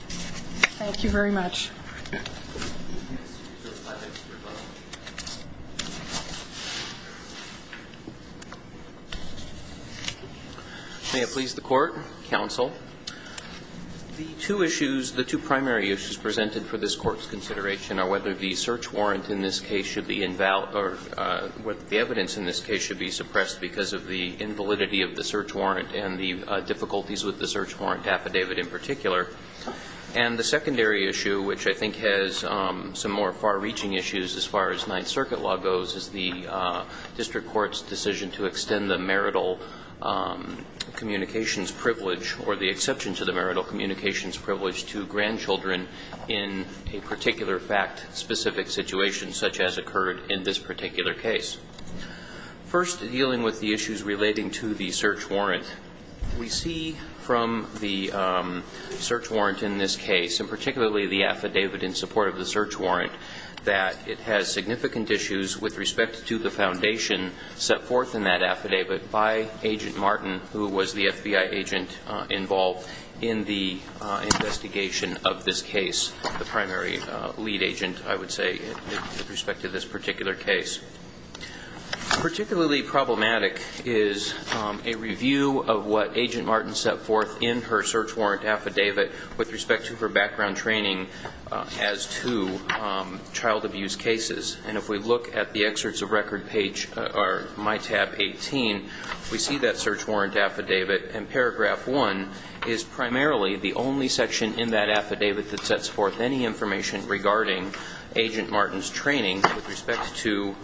Thank you very much. May it please the Court, Counsel. The two primary issues presented for this Court's consideration are whether the search warrant in this case should be invalid or whether the evidence in this case should be suppressed because of the invalidity of the search warrant and the difficulties with the search warrant affidavit in particular. And the secondary issue, which I think has some more far-reaching issues as far as Ninth Circuit law goes, is the District Court's decision to extend the marital communications privilege or the exception to the marital communications privilege to grandchildren in a particular fact-specific situation such as occurred in this particular case. First, dealing with the issues relating to the search warrant. We see from the search warrant in this case, and particularly the affidavit in support of the search warrant, that it has significant issues with respect to the foundation set forth in that affidavit by Agent Martin, who was the FBI agent involved in the investigation of this case, the primary lead agent, I would say, with respect to this particular case. Particularly problematic is a review of what Agent Martin set forth in her search warrant affidavit with respect to her background training as to child abuse cases. And if we look at the excerpts of record page, or my tab 18, we see that search warrant affidavit, and paragraph 1 is primarily the only section in that affidavit that sets forth any information regarding Agent Martin's training with respect to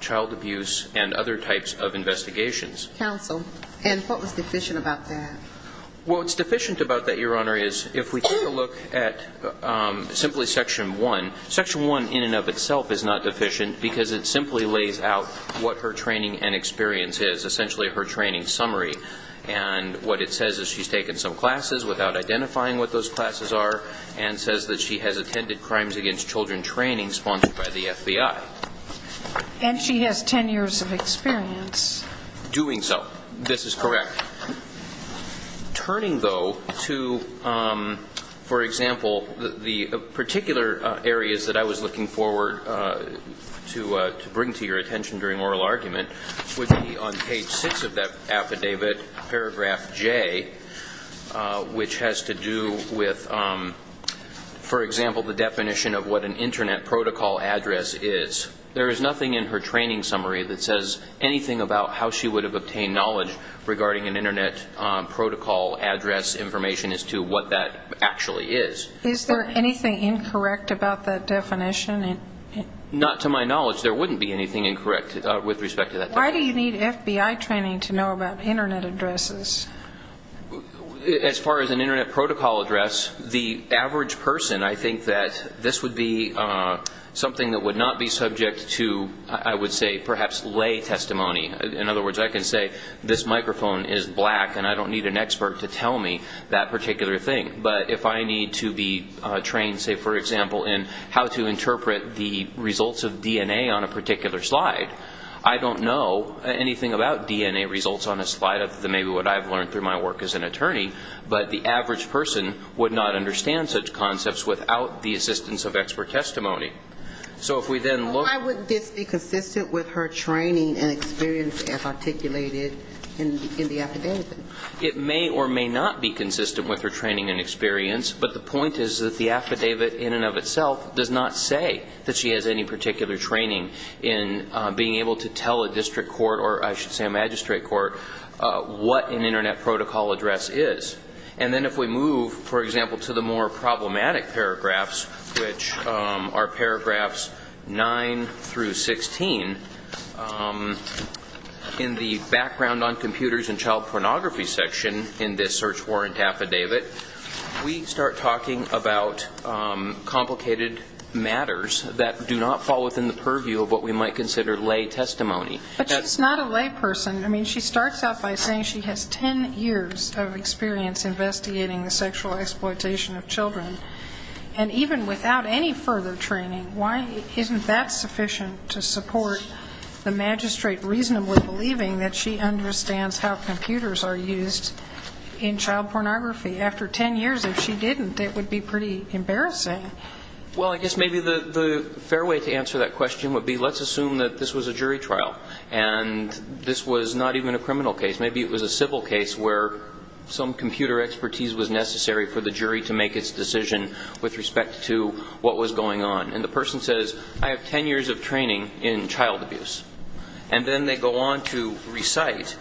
child abuse and other types of investigations. Counsel, and what was deficient about that? Well, what's deficient about that, Your Honor, is if we take a look at simply section 1, section 1 in and of itself is not deficient because it simply lays out what her training and experience is, essentially her training summary. And what it says is she's taken some classes without identifying what those classes are, and says that she has attended crimes against children training sponsored by the FBI. And she has 10 years of experience. Doing so. This is correct. Turning, though, to, for example, the particular areas that I was looking forward to bring to your attention would be on page 6 of that affidavit, paragraph J, which has to do with, for example, the definition of what an Internet protocol address is. There is nothing in her training summary that says anything about how she would have obtained knowledge regarding an Internet protocol address information as to what that actually is. Is there anything incorrect about that definition? Not to my knowledge. There wouldn't be anything incorrect with respect to that definition. Why do you need FBI training to know about Internet addresses? As far as an Internet protocol address, the average person, I think that this would be something that would not be subject to, I would say, perhaps lay testimony. In other words, I can say this microphone is black, and I don't need an expert to tell me that particular thing. But if I need to be trained, say, for example, in how to interpret the results of DNA on a particular slide, I don't know anything about DNA results on a slide other than maybe what I've learned through my work as an attorney. But the average person would not understand such concepts without the assistance of expert testimony. So if we then look at the... Why would this be consistent with her training and experience as articulated in the affidavit? It may or may not be consistent with her training and experience, but the point is that the affidavit in and of itself does not say that she has any particular training in being able to tell a district court, or I should say a magistrate court, what an Internet protocol address is. And then if we move, for example, to the more problematic paragraphs, which are paragraphs 9 through 16, in the background on computers and child pornography section in this search warrant affidavit, we start talking about complicated matters that do not fall within the purview of what we might consider lay testimony. But she's not a lay person. I mean, she starts out by saying she has 10 years of experience investigating the sexual exploitation of children. And even without any further training, why isn't that sufficient to support the magistrate reasonably believing that she understands how computers are used in child pornography? After 10 years, if she didn't, it would be pretty embarrassing. Well, I guess maybe the fair way to answer that question would be let's assume that this was a jury trial and this was not even a criminal case. Maybe it was a civil case where some computer expertise was necessary for the jury to make its decision with respect to what was going on. And the person says, I have 10 years of training in child abuse. And then they go on to recite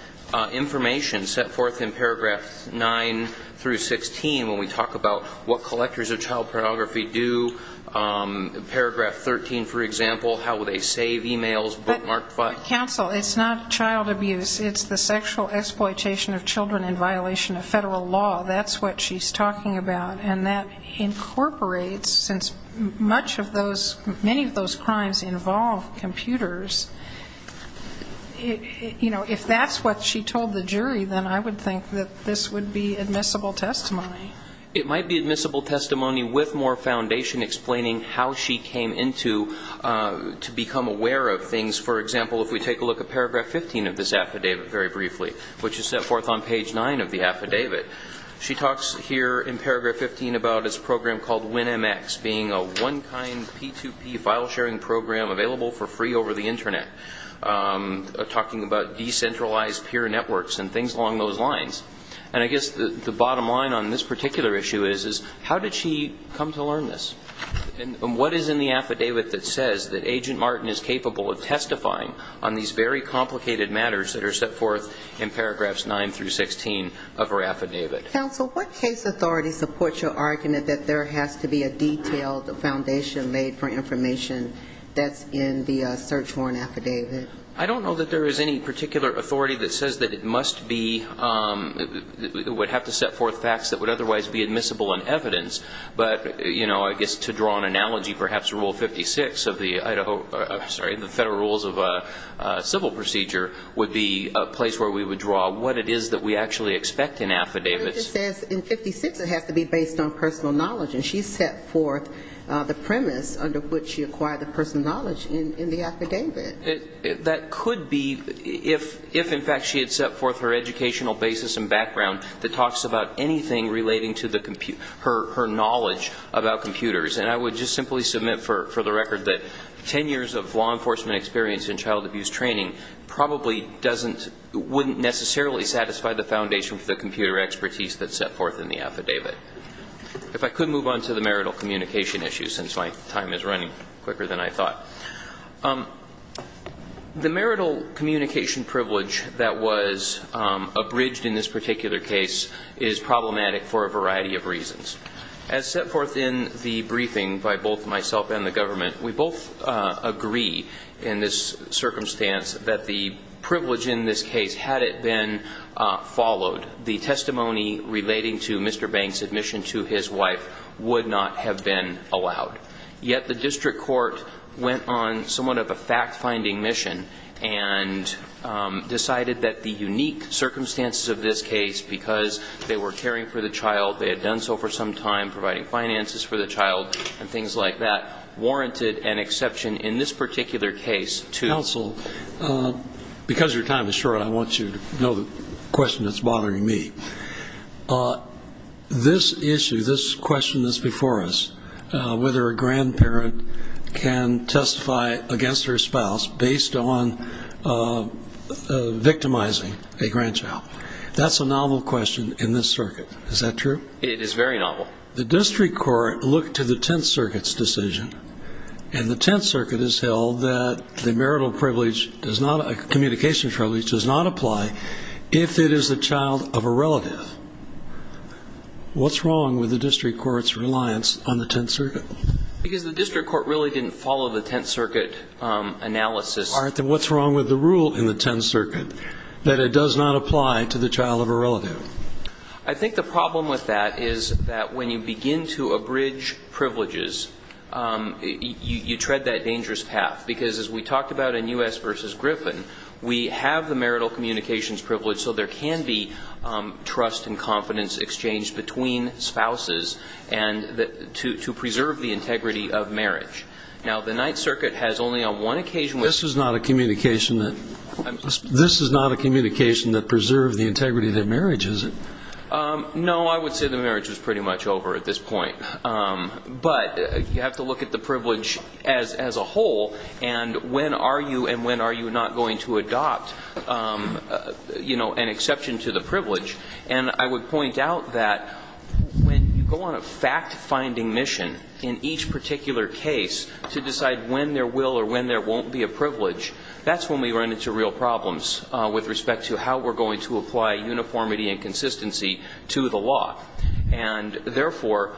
information set forth in paragraphs 9 through 16 when we talk about what collectors of child pornography do. Paragraph 13, for example, how they save e-mails, bookmark files. But counsel, it's not child abuse. It's the sexual exploitation of children in violation of federal law. That's what she's talking about. And that incorporates, since much of those, many of those crimes involve computers, you know, if that's what she told the jury, then I would think that this would be admissible testimony. It might be admissible testimony with more foundation explaining how she came into to become aware of things. For example, if we take a look at paragraph 15 of this affidavit very briefly, which is set forth on page 9 of the affidavit, she talks here in paragraph 15 about this program called WinMX being a one-kind P2P file sharing program available for free over the Internet, talking about decentralized peer networks and things along those lines. And I guess the bottom line on this particular issue is how did she come to learn this? And what is in the affidavit that says that Agent Martin is capable of testifying on these very complicated matters that are set forth in paragraphs 9 through 16 of her affidavit? Counsel, what case authority supports your argument that there has to be a detailed foundation made for information that's in the search warrant affidavit? I don't know that there is any particular authority that says that it must be, would have to set forth facts that would otherwise be admissible in evidence. But, you know, I guess to draw an analogy, perhaps Rule 56 of the Idaho, sorry, the Federal Rules of Civil Procedure would be a place where we would draw what it is that we actually expect in affidavits. But it just says in 56 it has to be based on personal knowledge, and she set forth the premise under which she acquired the personal knowledge in the affidavit. That could be if, in fact, she had set forth her educational basis and background that talks about anything relating to her knowledge about computers. And I would just simply submit for the record that 10 years of law enforcement experience and child abuse training probably doesn't, wouldn't necessarily satisfy the foundation for the computer expertise that's set forth in the affidavit. If I could move on to the marital communication issue, since my time is running quicker than I thought. The marital communication privilege that was abridged in this particular case is problematic for a variety of reasons. As set forth in the briefing by both myself and the government, we both agree in this circumstance that the privilege in this case, had it been followed, the testimony relating to Mr. Banks' admission to his wife would not have been allowed. Yet the district court went on somewhat of a fact-finding mission and decided that the unique circumstances of this case, because they were caring for the child, they had done so for some time, providing finances for the child, and things like that, warranted an exception in this particular case to. Counsel, because your time is short, I want you to know the question that's bothering me. This issue, this question that's before us, whether a grandparent can testify against her spouse based on victimizing a grandchild, that's a novel question in this circuit. Is that true? It is very novel. The district court looked to the Tenth Circuit's decision, and the Tenth Circuit has held that the marital privilege, communication privilege, does not apply if it is the child of a relative. What's wrong with the district court's reliance on the Tenth Circuit? Because the district court really didn't follow the Tenth Circuit analysis. All right, then what's wrong with the rule in the Tenth Circuit that it does not apply to the child of a relative? I think the problem with that is that when you begin to abridge privileges, you tread that dangerous path. Because as we talked about in U.S. versus Griffin, we have the marital communications privilege, so there can be trust and confidence exchanged between spouses to preserve the integrity of marriage. Now, the Ninth Circuit has only on one occasion. This is not a communication that preserves the integrity of their marriage, is it? No, I would say the marriage is pretty much over at this point. But you have to look at the privilege as a whole, and when are you and when are you not going to adopt an exception to the privilege. And I would point out that when you go on a fact-finding mission in each particular case to decide when there will or when there won't be a privilege, that's when we run into real problems with respect to how we're going to apply uniformity and consistency to the law. And, therefore,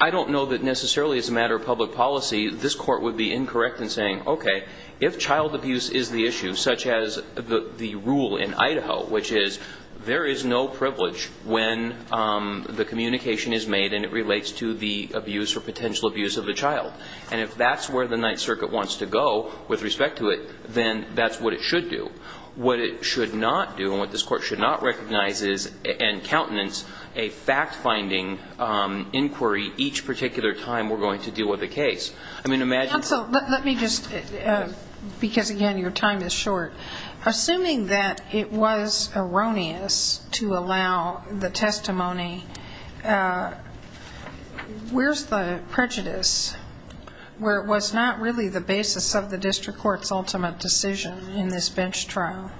I don't know that necessarily as a matter of public policy, this Court would be incorrect in saying, okay, if child abuse is the issue, such as the rule in Idaho, which is there is no privilege when the communication is made and it relates to the abuse or potential abuse of the child, and if that's where the Ninth Circuit wants to go with respect to it, then that's what it should do. What it should not do and what this Court should not recognize is, and countenance, a fact-finding inquiry each particular time we're going to deal with a case. I mean, imagine... Counsel, let me just, because, again, your time is short. Assuming that it was erroneous to allow the testimony, where's the prejudice? Where it was not really the basis of the district court's ultimate decision in this bench trial.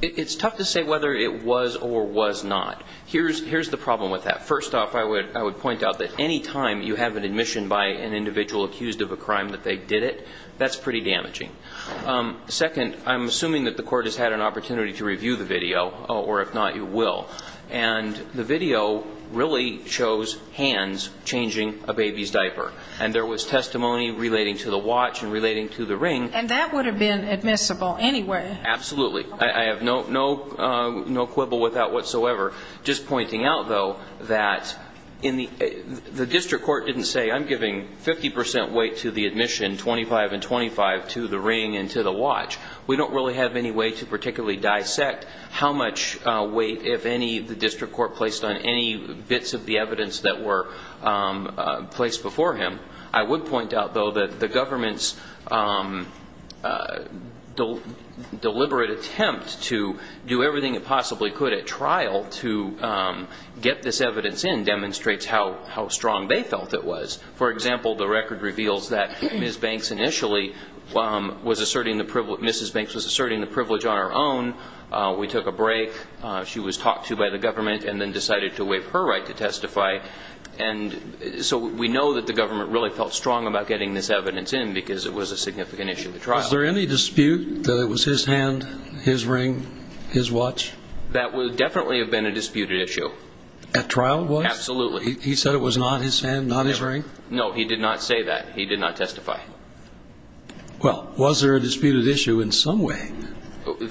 It's tough to say whether it was or was not. Here's the problem with that. First off, I would point out that any time you have an admission by an individual accused of a crime that they did it, that's pretty damaging. Second, I'm assuming that the court has had an opportunity to review the video, or if not, you will, and the video really shows hands changing a baby's diaper, and there was testimony relating to the watch and relating to the ring. And that would have been admissible anyway. Absolutely. I have no quibble with that whatsoever. Just pointing out, though, that the district court didn't say, I'm giving 50 percent weight to the admission, 25 and 25, to the ring and to the watch. We don't really have any way to particularly dissect how much weight, if any, the district court placed on any bits of the evidence that were placed before him. I would point out, though, that the government's deliberate attempt to do everything it possibly could at trial to get this evidence in demonstrates how strong they felt it was. For example, the record reveals that Ms. Banks initially was asserting the privilege on her own. We took a break. She was talked to by the government and then decided to waive her right to testify. And so we know that the government really felt strong about getting this evidence in because it was a significant issue at trial. Was there any dispute that it was his hand, his ring, his watch? That would definitely have been a disputed issue. At trial it was? Absolutely. He said it was not his hand, not his ring? No, he did not say that. He did not testify. Well, was there a disputed issue in some way?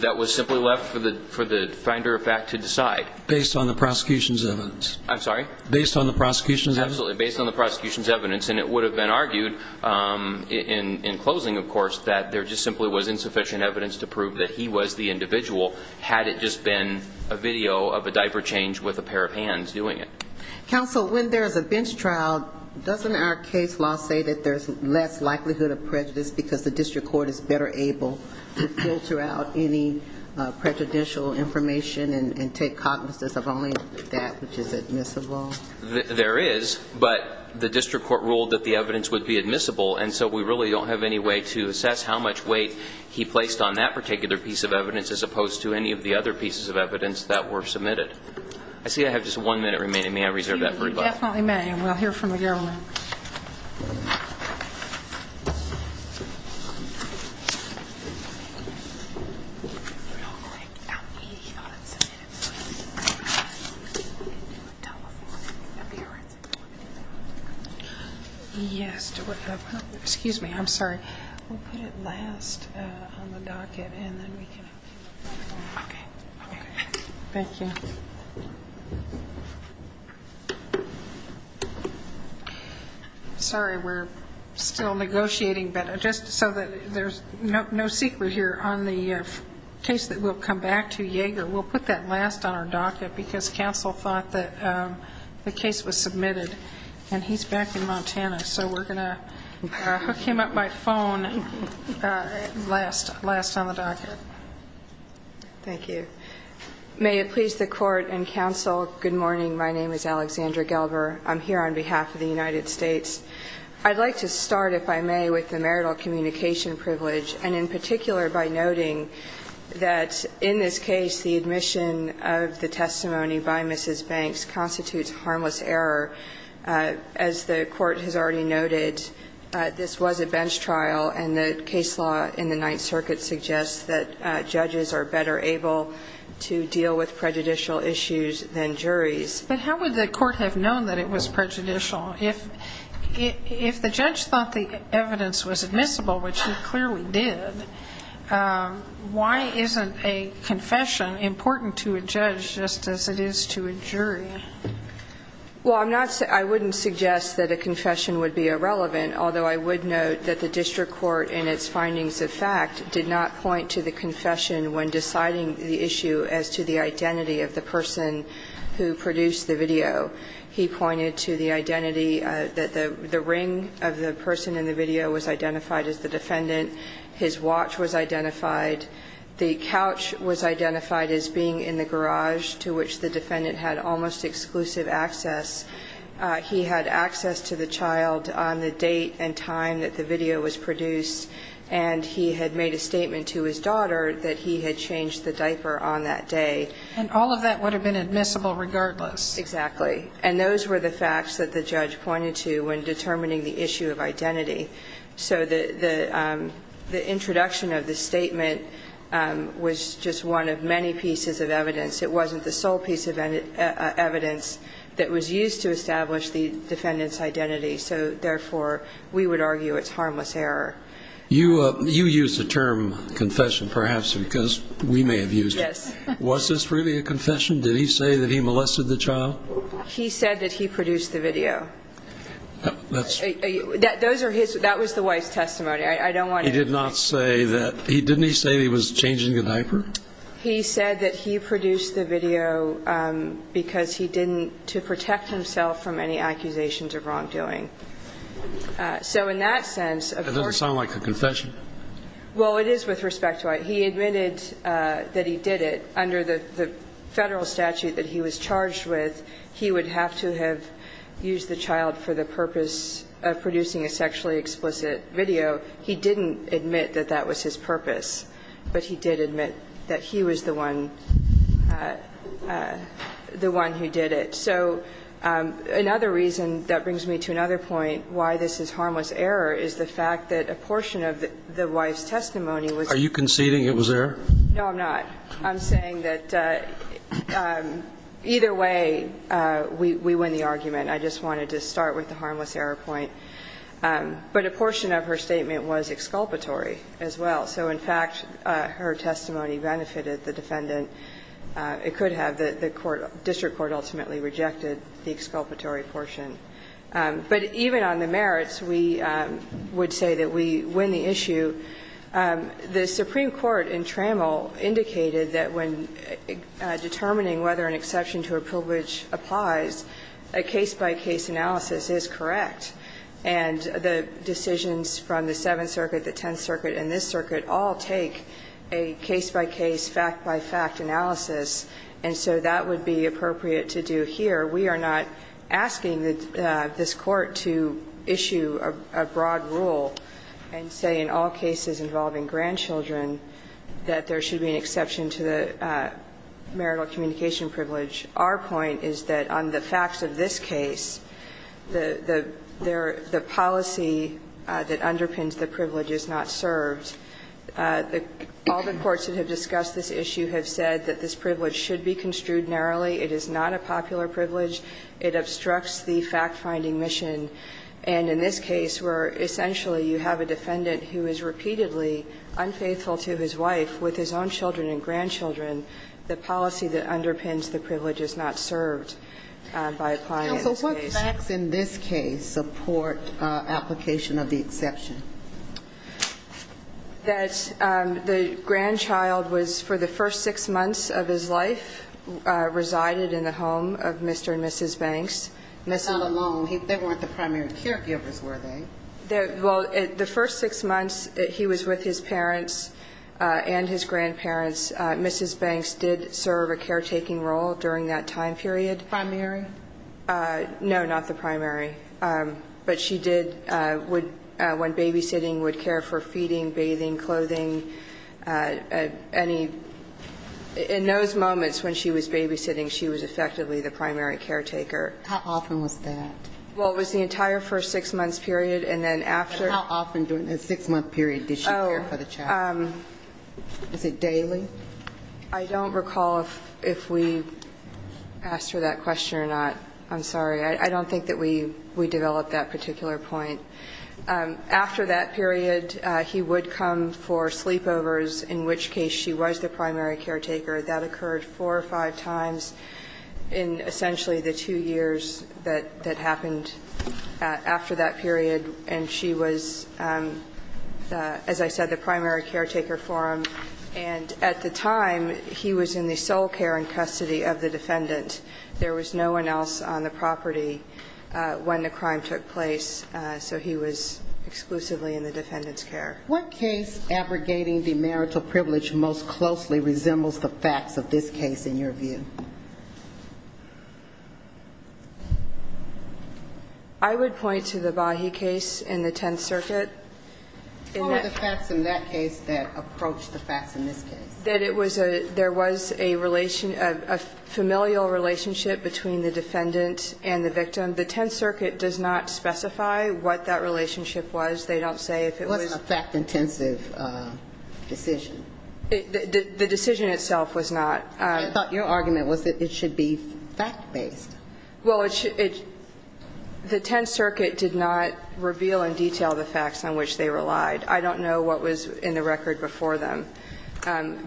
That was simply left for the finder of fact to decide. Based on the prosecution's evidence? I'm sorry? Based on the prosecution's evidence? Absolutely, based on the prosecution's evidence. And it would have been argued in closing, of course, that there just simply was insufficient evidence to prove that he was the individual had it just been a video of a diaper change with a pair of hands doing it. Counsel, when there's a bench trial, doesn't our case law say that there's less likelihood of prejudice because the district court is better able to filter out any prejudicial information and take cognizance of only that which is admissible? There is, but the district court ruled that the evidence would be admissible, and so we really don't have any way to assess how much weight he placed on that particular piece of evidence as opposed to any of the other pieces of evidence that were submitted. I see I have just one minute remaining. May I reserve that for rebuttal? You definitely may, and we'll hear from the government. Excuse me, I'm sorry. We'll put it last on the docket, and then we can... Thank you. Sorry, we're still negotiating, but just so that there's no secret here on the case that we'll come back to Yaeger, we'll put that last on our docket because counsel thought that the case was submitted, and he's back in Montana, so we're going to hook him up by phone last on the docket. Thank you. May it please the court and counsel, good morning. My name is Alexandra Gelber. I'm here on behalf of the United States. I'd like to start, if I may, with the marital communication privilege, and in particular by noting that in this case the admission of the testimony by Mrs. Banks constitutes harmless error. As the Court has already noted, this was a bench trial, and the case law in the Ninth Circuit suggests that judges are better able to deal with prejudicial issues than juries. But how would the court have known that it was prejudicial? If the judge thought the evidence was admissible, which it clearly did, why isn't a confession important to a judge just as it is to a jury? Well, I'm not saying – I wouldn't suggest that a confession would be irrelevant, although I would note that the district court in its findings of fact did not point to the confession when deciding the issue as to the identity of the person who produced the video. He pointed to the identity that the ring of the person in the video was identified as the defendant, his watch was identified, the couch was identified as being in the garage to which the defendant had almost exclusive access. He had access to the child on the date and time that the video was produced, and he had made a statement to his daughter that he had changed the diaper on that day. And all of that would have been admissible regardless. Exactly. And those were the facts that the judge pointed to when determining the issue of identity. So the introduction of the statement was just one of many pieces of evidence. It wasn't the sole piece of evidence that was used to establish the defendant's identity. So, therefore, we would argue it's harmless error. You used the term confession perhaps because we may have used it. Yes. Was this really a confession? Did he say that he molested the child? He said that he produced the video. That was the wife's testimony. I don't want to – He did not say that – didn't he say he was changing the diaper? He said that he produced the video because he didn't – to protect himself from any accusations of wrongdoing. So in that sense, of course – That doesn't sound like a confession. Well, it is with respect to – he admitted that he did it under the Federal statute that he was charged with. He would have to have used the child for the purpose of producing a sexually explicit video. He didn't admit that that was his purpose, but he did admit that he was the one – the one who did it. So another reason that brings me to another point why this is harmless error is the fact that a portion of the wife's testimony was – Are you conceding it was error? No, I'm not. I'm saying that either way, we win the argument. I just wanted to start with the harmless error point. But a portion of her statement was exculpatory as well. So in fact, her testimony benefited the defendant. It could have. The court – the district court ultimately rejected the exculpatory portion. But even on the merits, we would say that we win the issue. The Supreme Court in Trammell indicated that when determining whether an exception to a privilege applies, a case-by-case analysis is correct. And the decisions from the Seventh Circuit, the Tenth Circuit, and this circuit all take a case-by-case, fact-by-fact analysis. And so that would be appropriate to do here. We are not asking this Court to issue a broad rule and say in all cases involving grandchildren that there should be an exception to the marital communication privilege. Our point is that on the facts of this case, the policy that underpins the privilege is not served. All the courts that have discussed this issue have said that this privilege should be construed narrowly. It is not a popular privilege. It obstructs the fact-finding mission. And in this case, where essentially you have a defendant who is repeatedly unfaithful to his wife with his own children and grandchildren, the policy that underpins the privilege is not served by applying this case. Does the facts in this case support application of the exception? That the grandchild was, for the first six months of his life, resided in the home of Mr. and Mrs. Banks. Not alone. They weren't the primary caregivers, were they? Well, the first six months he was with his parents and his grandparents, Mrs. Banks did serve a caretaking role during that time period. Primary? No, not the primary. But she did, when babysitting, would care for feeding, bathing, clothing. In those moments when she was babysitting, she was effectively the primary caretaker. How often was that? Well, it was the entire first six months period, and then after. And how often during that six-month period did she care for the child? Is it daily? I don't recall if we asked her that question or not. I'm sorry. I don't think that we developed that particular point. After that period, he would come for sleepovers, in which case she was the primary caretaker. That occurred four or five times in essentially the two years that happened after that period. And she was, as I said, the primary caretaker for him. And at the time, he was in the sole care and custody of the defendant. There was no one else on the property when the crime took place, so he was exclusively in the defendant's care. What case abrogating the marital privilege most closely resembles the facts of this case in your view? I would point to the Bahi case in the Tenth Circuit. What were the facts in that case that approached the facts in this case? That it was a – there was a relation – a familial relationship between the defendant and the victim. The Tenth Circuit does not specify what that relationship was. They don't say if it was – It wasn't a fact-intensive decision. The decision itself was not. I thought your argument was that it should be fact-based. Well, it – the Tenth Circuit did not reveal in detail the facts on which they relied. I don't know what was in the record before them.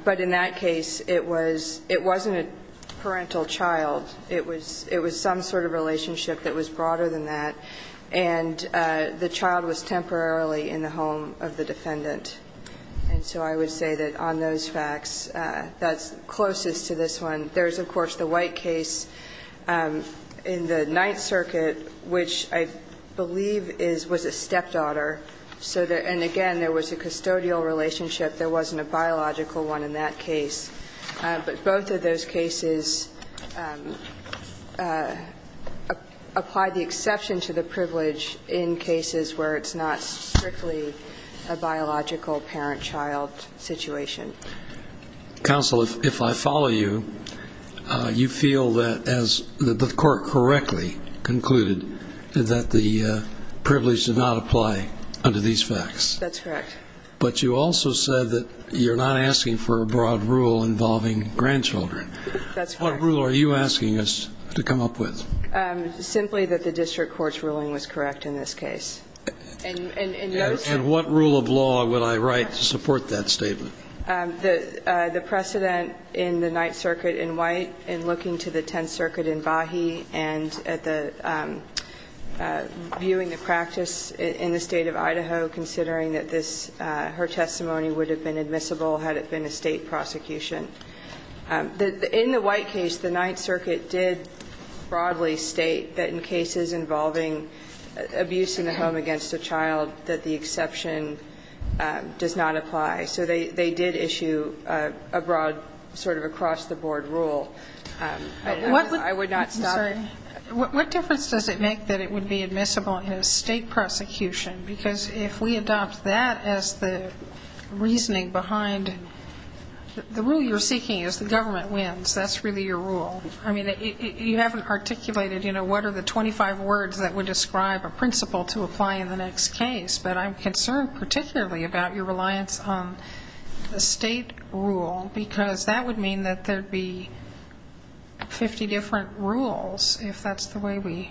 But in that case, it was – it wasn't a parental child. It was some sort of relationship that was broader than that. And the child was temporarily in the home of the defendant. And so I would say that on those facts, that's closest to this one. There's, of course, the White case in the Ninth Circuit, which I believe is – was a stepdaughter. So there – and again, there was a custodial relationship. There wasn't a biological one in that case. But both of those cases apply the exception to the privilege in cases where it's not strictly a biological parent-child situation. Counsel, if I follow you, you feel that as the court correctly concluded, that the privilege did not apply under these facts. That's correct. But you also said that you're not asking for a broad rule involving grandchildren. That's correct. What rule are you asking us to come up with? Simply that the district court's ruling was correct in this case. And what rule of law would I write to support that statement? The precedent in the Ninth Circuit in White in looking to the Tenth Circuit in Bahi and at the – viewing the practice in the State of Idaho, considering that this – her testimony would have been admissible had it been a State prosecution. In the White case, the Ninth Circuit did broadly state that in cases involving abuse in the home against a child, that the exception does not apply. So they did issue a broad sort of across-the-board rule. I would not stop there. I'm sorry. What difference does it make that it would be admissible in a State prosecution? Because if we adopt that as the reasoning behind – the rule you're seeking is the government wins. That's really your rule. I mean, you haven't articulated, you know, what are the 25 words that would describe a principle to apply in the next case. But I'm concerned particularly about your reliance on the State rule, because that would mean that there would be 50 different rules, if that's the way we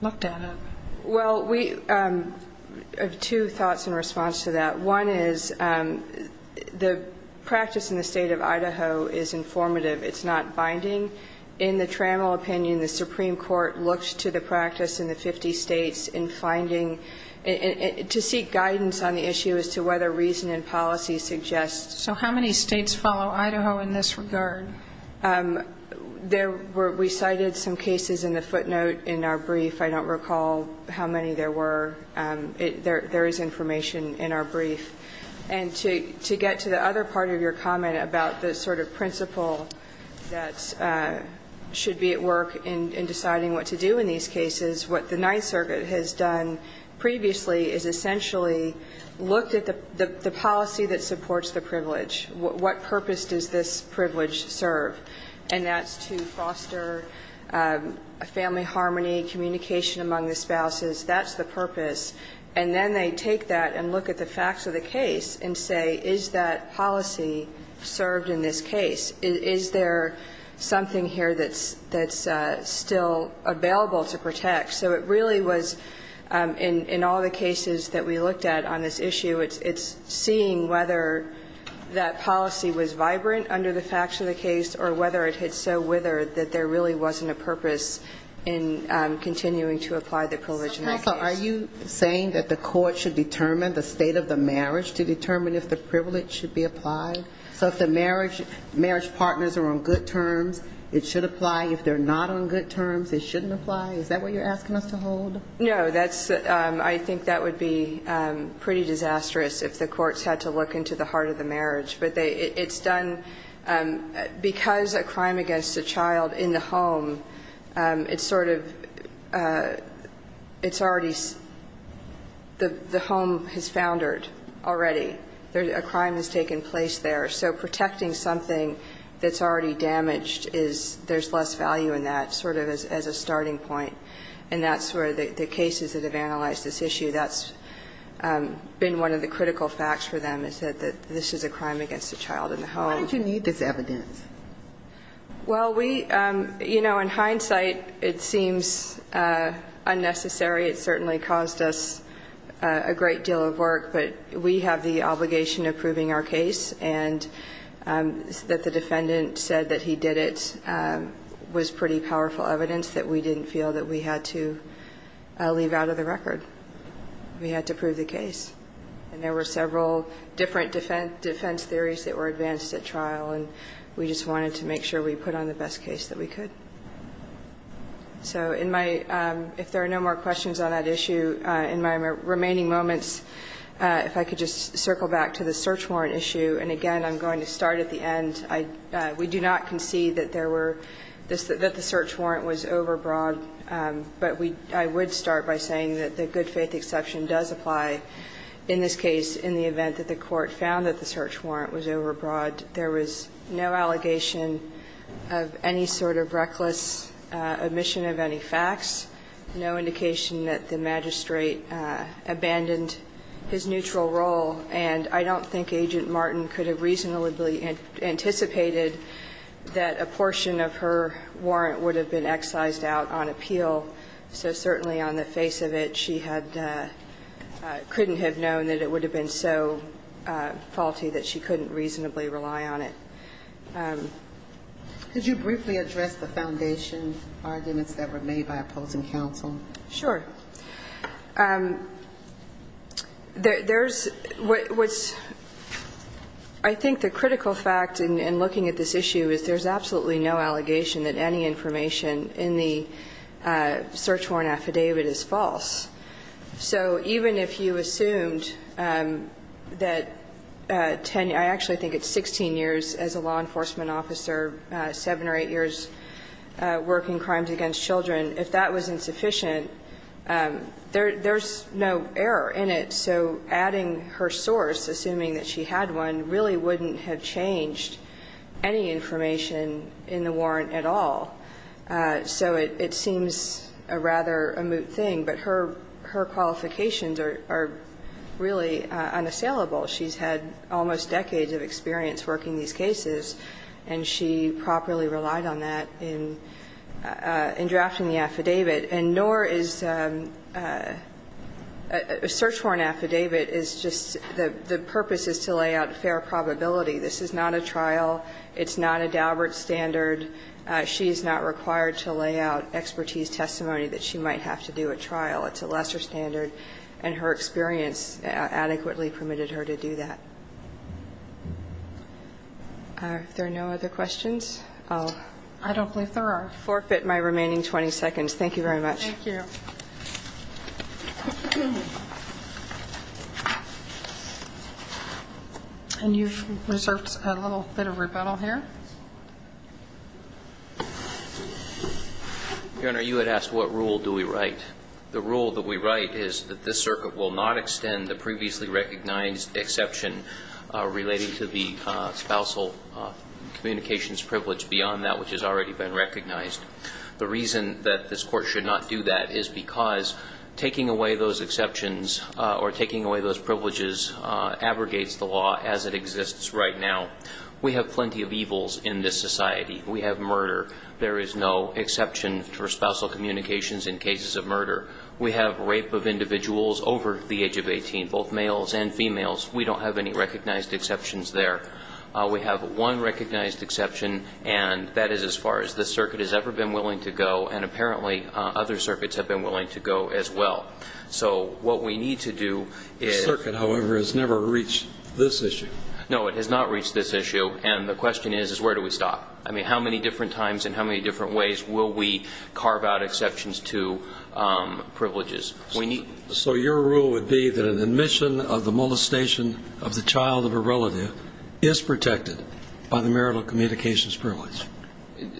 looked at it. Well, we have two thoughts in response to that. One is the practice in the State of Idaho is informative. It's not binding. In the Trammell opinion, the Supreme Court looked to the practice in the 50 States in finding – to seek guidance on the issue as to whether reason and policy suggests – So how many States follow Idaho in this regard? There were – we cited some cases in the footnote in our brief. I don't recall how many there were. There is information in our brief. And to get to the other part of your comment about the sort of principle that should be at work in deciding what to do in these cases, what the Ninth Circuit has done previously is essentially looked at the policy that supports the privilege. What purpose does this privilege serve? And that's to foster a family harmony, communication among the spouses. That's the purpose. And then they take that and look at the facts of the case and say, is that policy served in this case? Is there something here that's still available to protect? So it really was in all the cases that we looked at on this issue, it's seeing whether that policy was vibrant under the facts of the case or whether it had so withered that there really wasn't a purpose in continuing to apply the privilege in that case. So are you saying that the court should determine the state of the marriage to determine if the privilege should be applied? So if the marriage partners are on good terms, it should apply. If they're not on good terms, it shouldn't apply. Is that what you're asking us to hold? No. I think that would be pretty disastrous if the courts had to look into the heart of the marriage. But it's done because a crime against a child in the home, it's sort of the home has foundered already. A crime has taken place there. So protecting something that's already damaged, there's less value in that sort of as a starting point. And that's where the cases that have analyzed this issue, that's been one of the critical facts for them is that this is a crime against a child in the home. Why did you need this evidence? Well, we, you know, in hindsight, it seems unnecessary. It certainly caused us a great deal of work. But we have the obligation of proving our case. And that the defendant said that he did it was pretty powerful evidence that we didn't feel that we had to leave out of the record. We had to prove the case. And there were several different defense theories that were advanced at trial. And we just wanted to make sure we put on the best case that we could. So in my ‑‑ if there are no more questions on that issue, in my remaining moments, if I could just circle back to the search warrant issue. And again, I'm going to start at the end. We do not concede that there were ‑‑ that the search warrant was overbroad. But I would start by saying that the good faith exception does apply in this case in the event that the court found that the search warrant was overbroad. There was no allegation of any sort of reckless omission of any facts, no indication that the magistrate abandoned his neutral role. And I don't think Agent Martin could have reasonably anticipated that a portion of her warrant would have been excised out on appeal. So certainly on the face of it, she had ‑‑ couldn't have known that it would have been so faulty that she couldn't reasonably rely on it. Could you briefly address the foundation arguments that were made by opposing counsel? Sure. There's ‑‑ I think the critical fact in looking at this issue is there's absolutely no allegation that any information in the search warrant affidavit is false. So even if you assumed that 10 ‑‑ I actually think it's 16 years as a law enforcement officer, seven or eight years working crimes against children, if that was insufficient, there's no error in it. So adding her source, assuming that she had one, really wouldn't have changed any information in the warrant at all. So it seems a rather moot thing. But her qualifications are really unassailable. She's had almost decades of experience working these cases, and she properly relied on that in drafting the affidavit. And nor is a search warrant affidavit is just ‑‑ the purpose is to lay out fair probability. This is not a trial. It's not a Daubert standard. She's not required to lay out expertise testimony that she might have to do at trial. It's a lesser standard. And her experience adequately permitted her to do that. Are there no other questions? I'll ‑‑ I don't believe there are. I'll forfeit my remaining 20 seconds. Thank you very much. Thank you. And you've reserved a little bit of rebuttal here. Your Honor, you had asked what rule do we write. The rule that we write is that this circuit will not extend the previously recognized exception relating to the spousal communications privilege beyond that which has already been recognized. The reason that this court should not do that is because taking away those exceptions or taking away those privileges abrogates the law as it exists right now. We have plenty of evils in this society. We have murder. There is no exception for spousal communications in cases of murder. We have rape of individuals over the age of 18, both males and females. We don't have any recognized exceptions there. We have one recognized exception, and that is as far as this circuit has ever been willing to go. And apparently other circuits have been willing to go as well. So what we need to do is ‑‑ This circuit, however, has never reached this issue. No, it has not reached this issue. And the question is, is where do we stop? I mean, how many different times and how many different ways will we carve out exceptions to privileges? So your rule would be that an admission of the molestation of the child of a relative is protected by the marital communications privilege?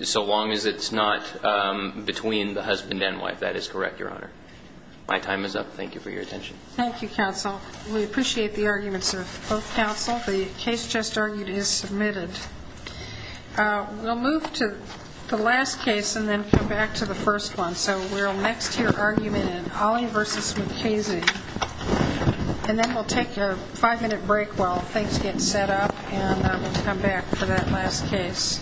So long as it's not between the husband and wife. That is correct, Your Honor. My time is up. Thank you for your attention. Thank you, counsel. We appreciate the arguments of both counsel. The case just argued is submitted. We'll move to the last case and then come back to the first one. So we'll next hear argument in Holley v. McKaysey. And then we'll take a five‑minute break while things get set up, and we'll come back for that last case.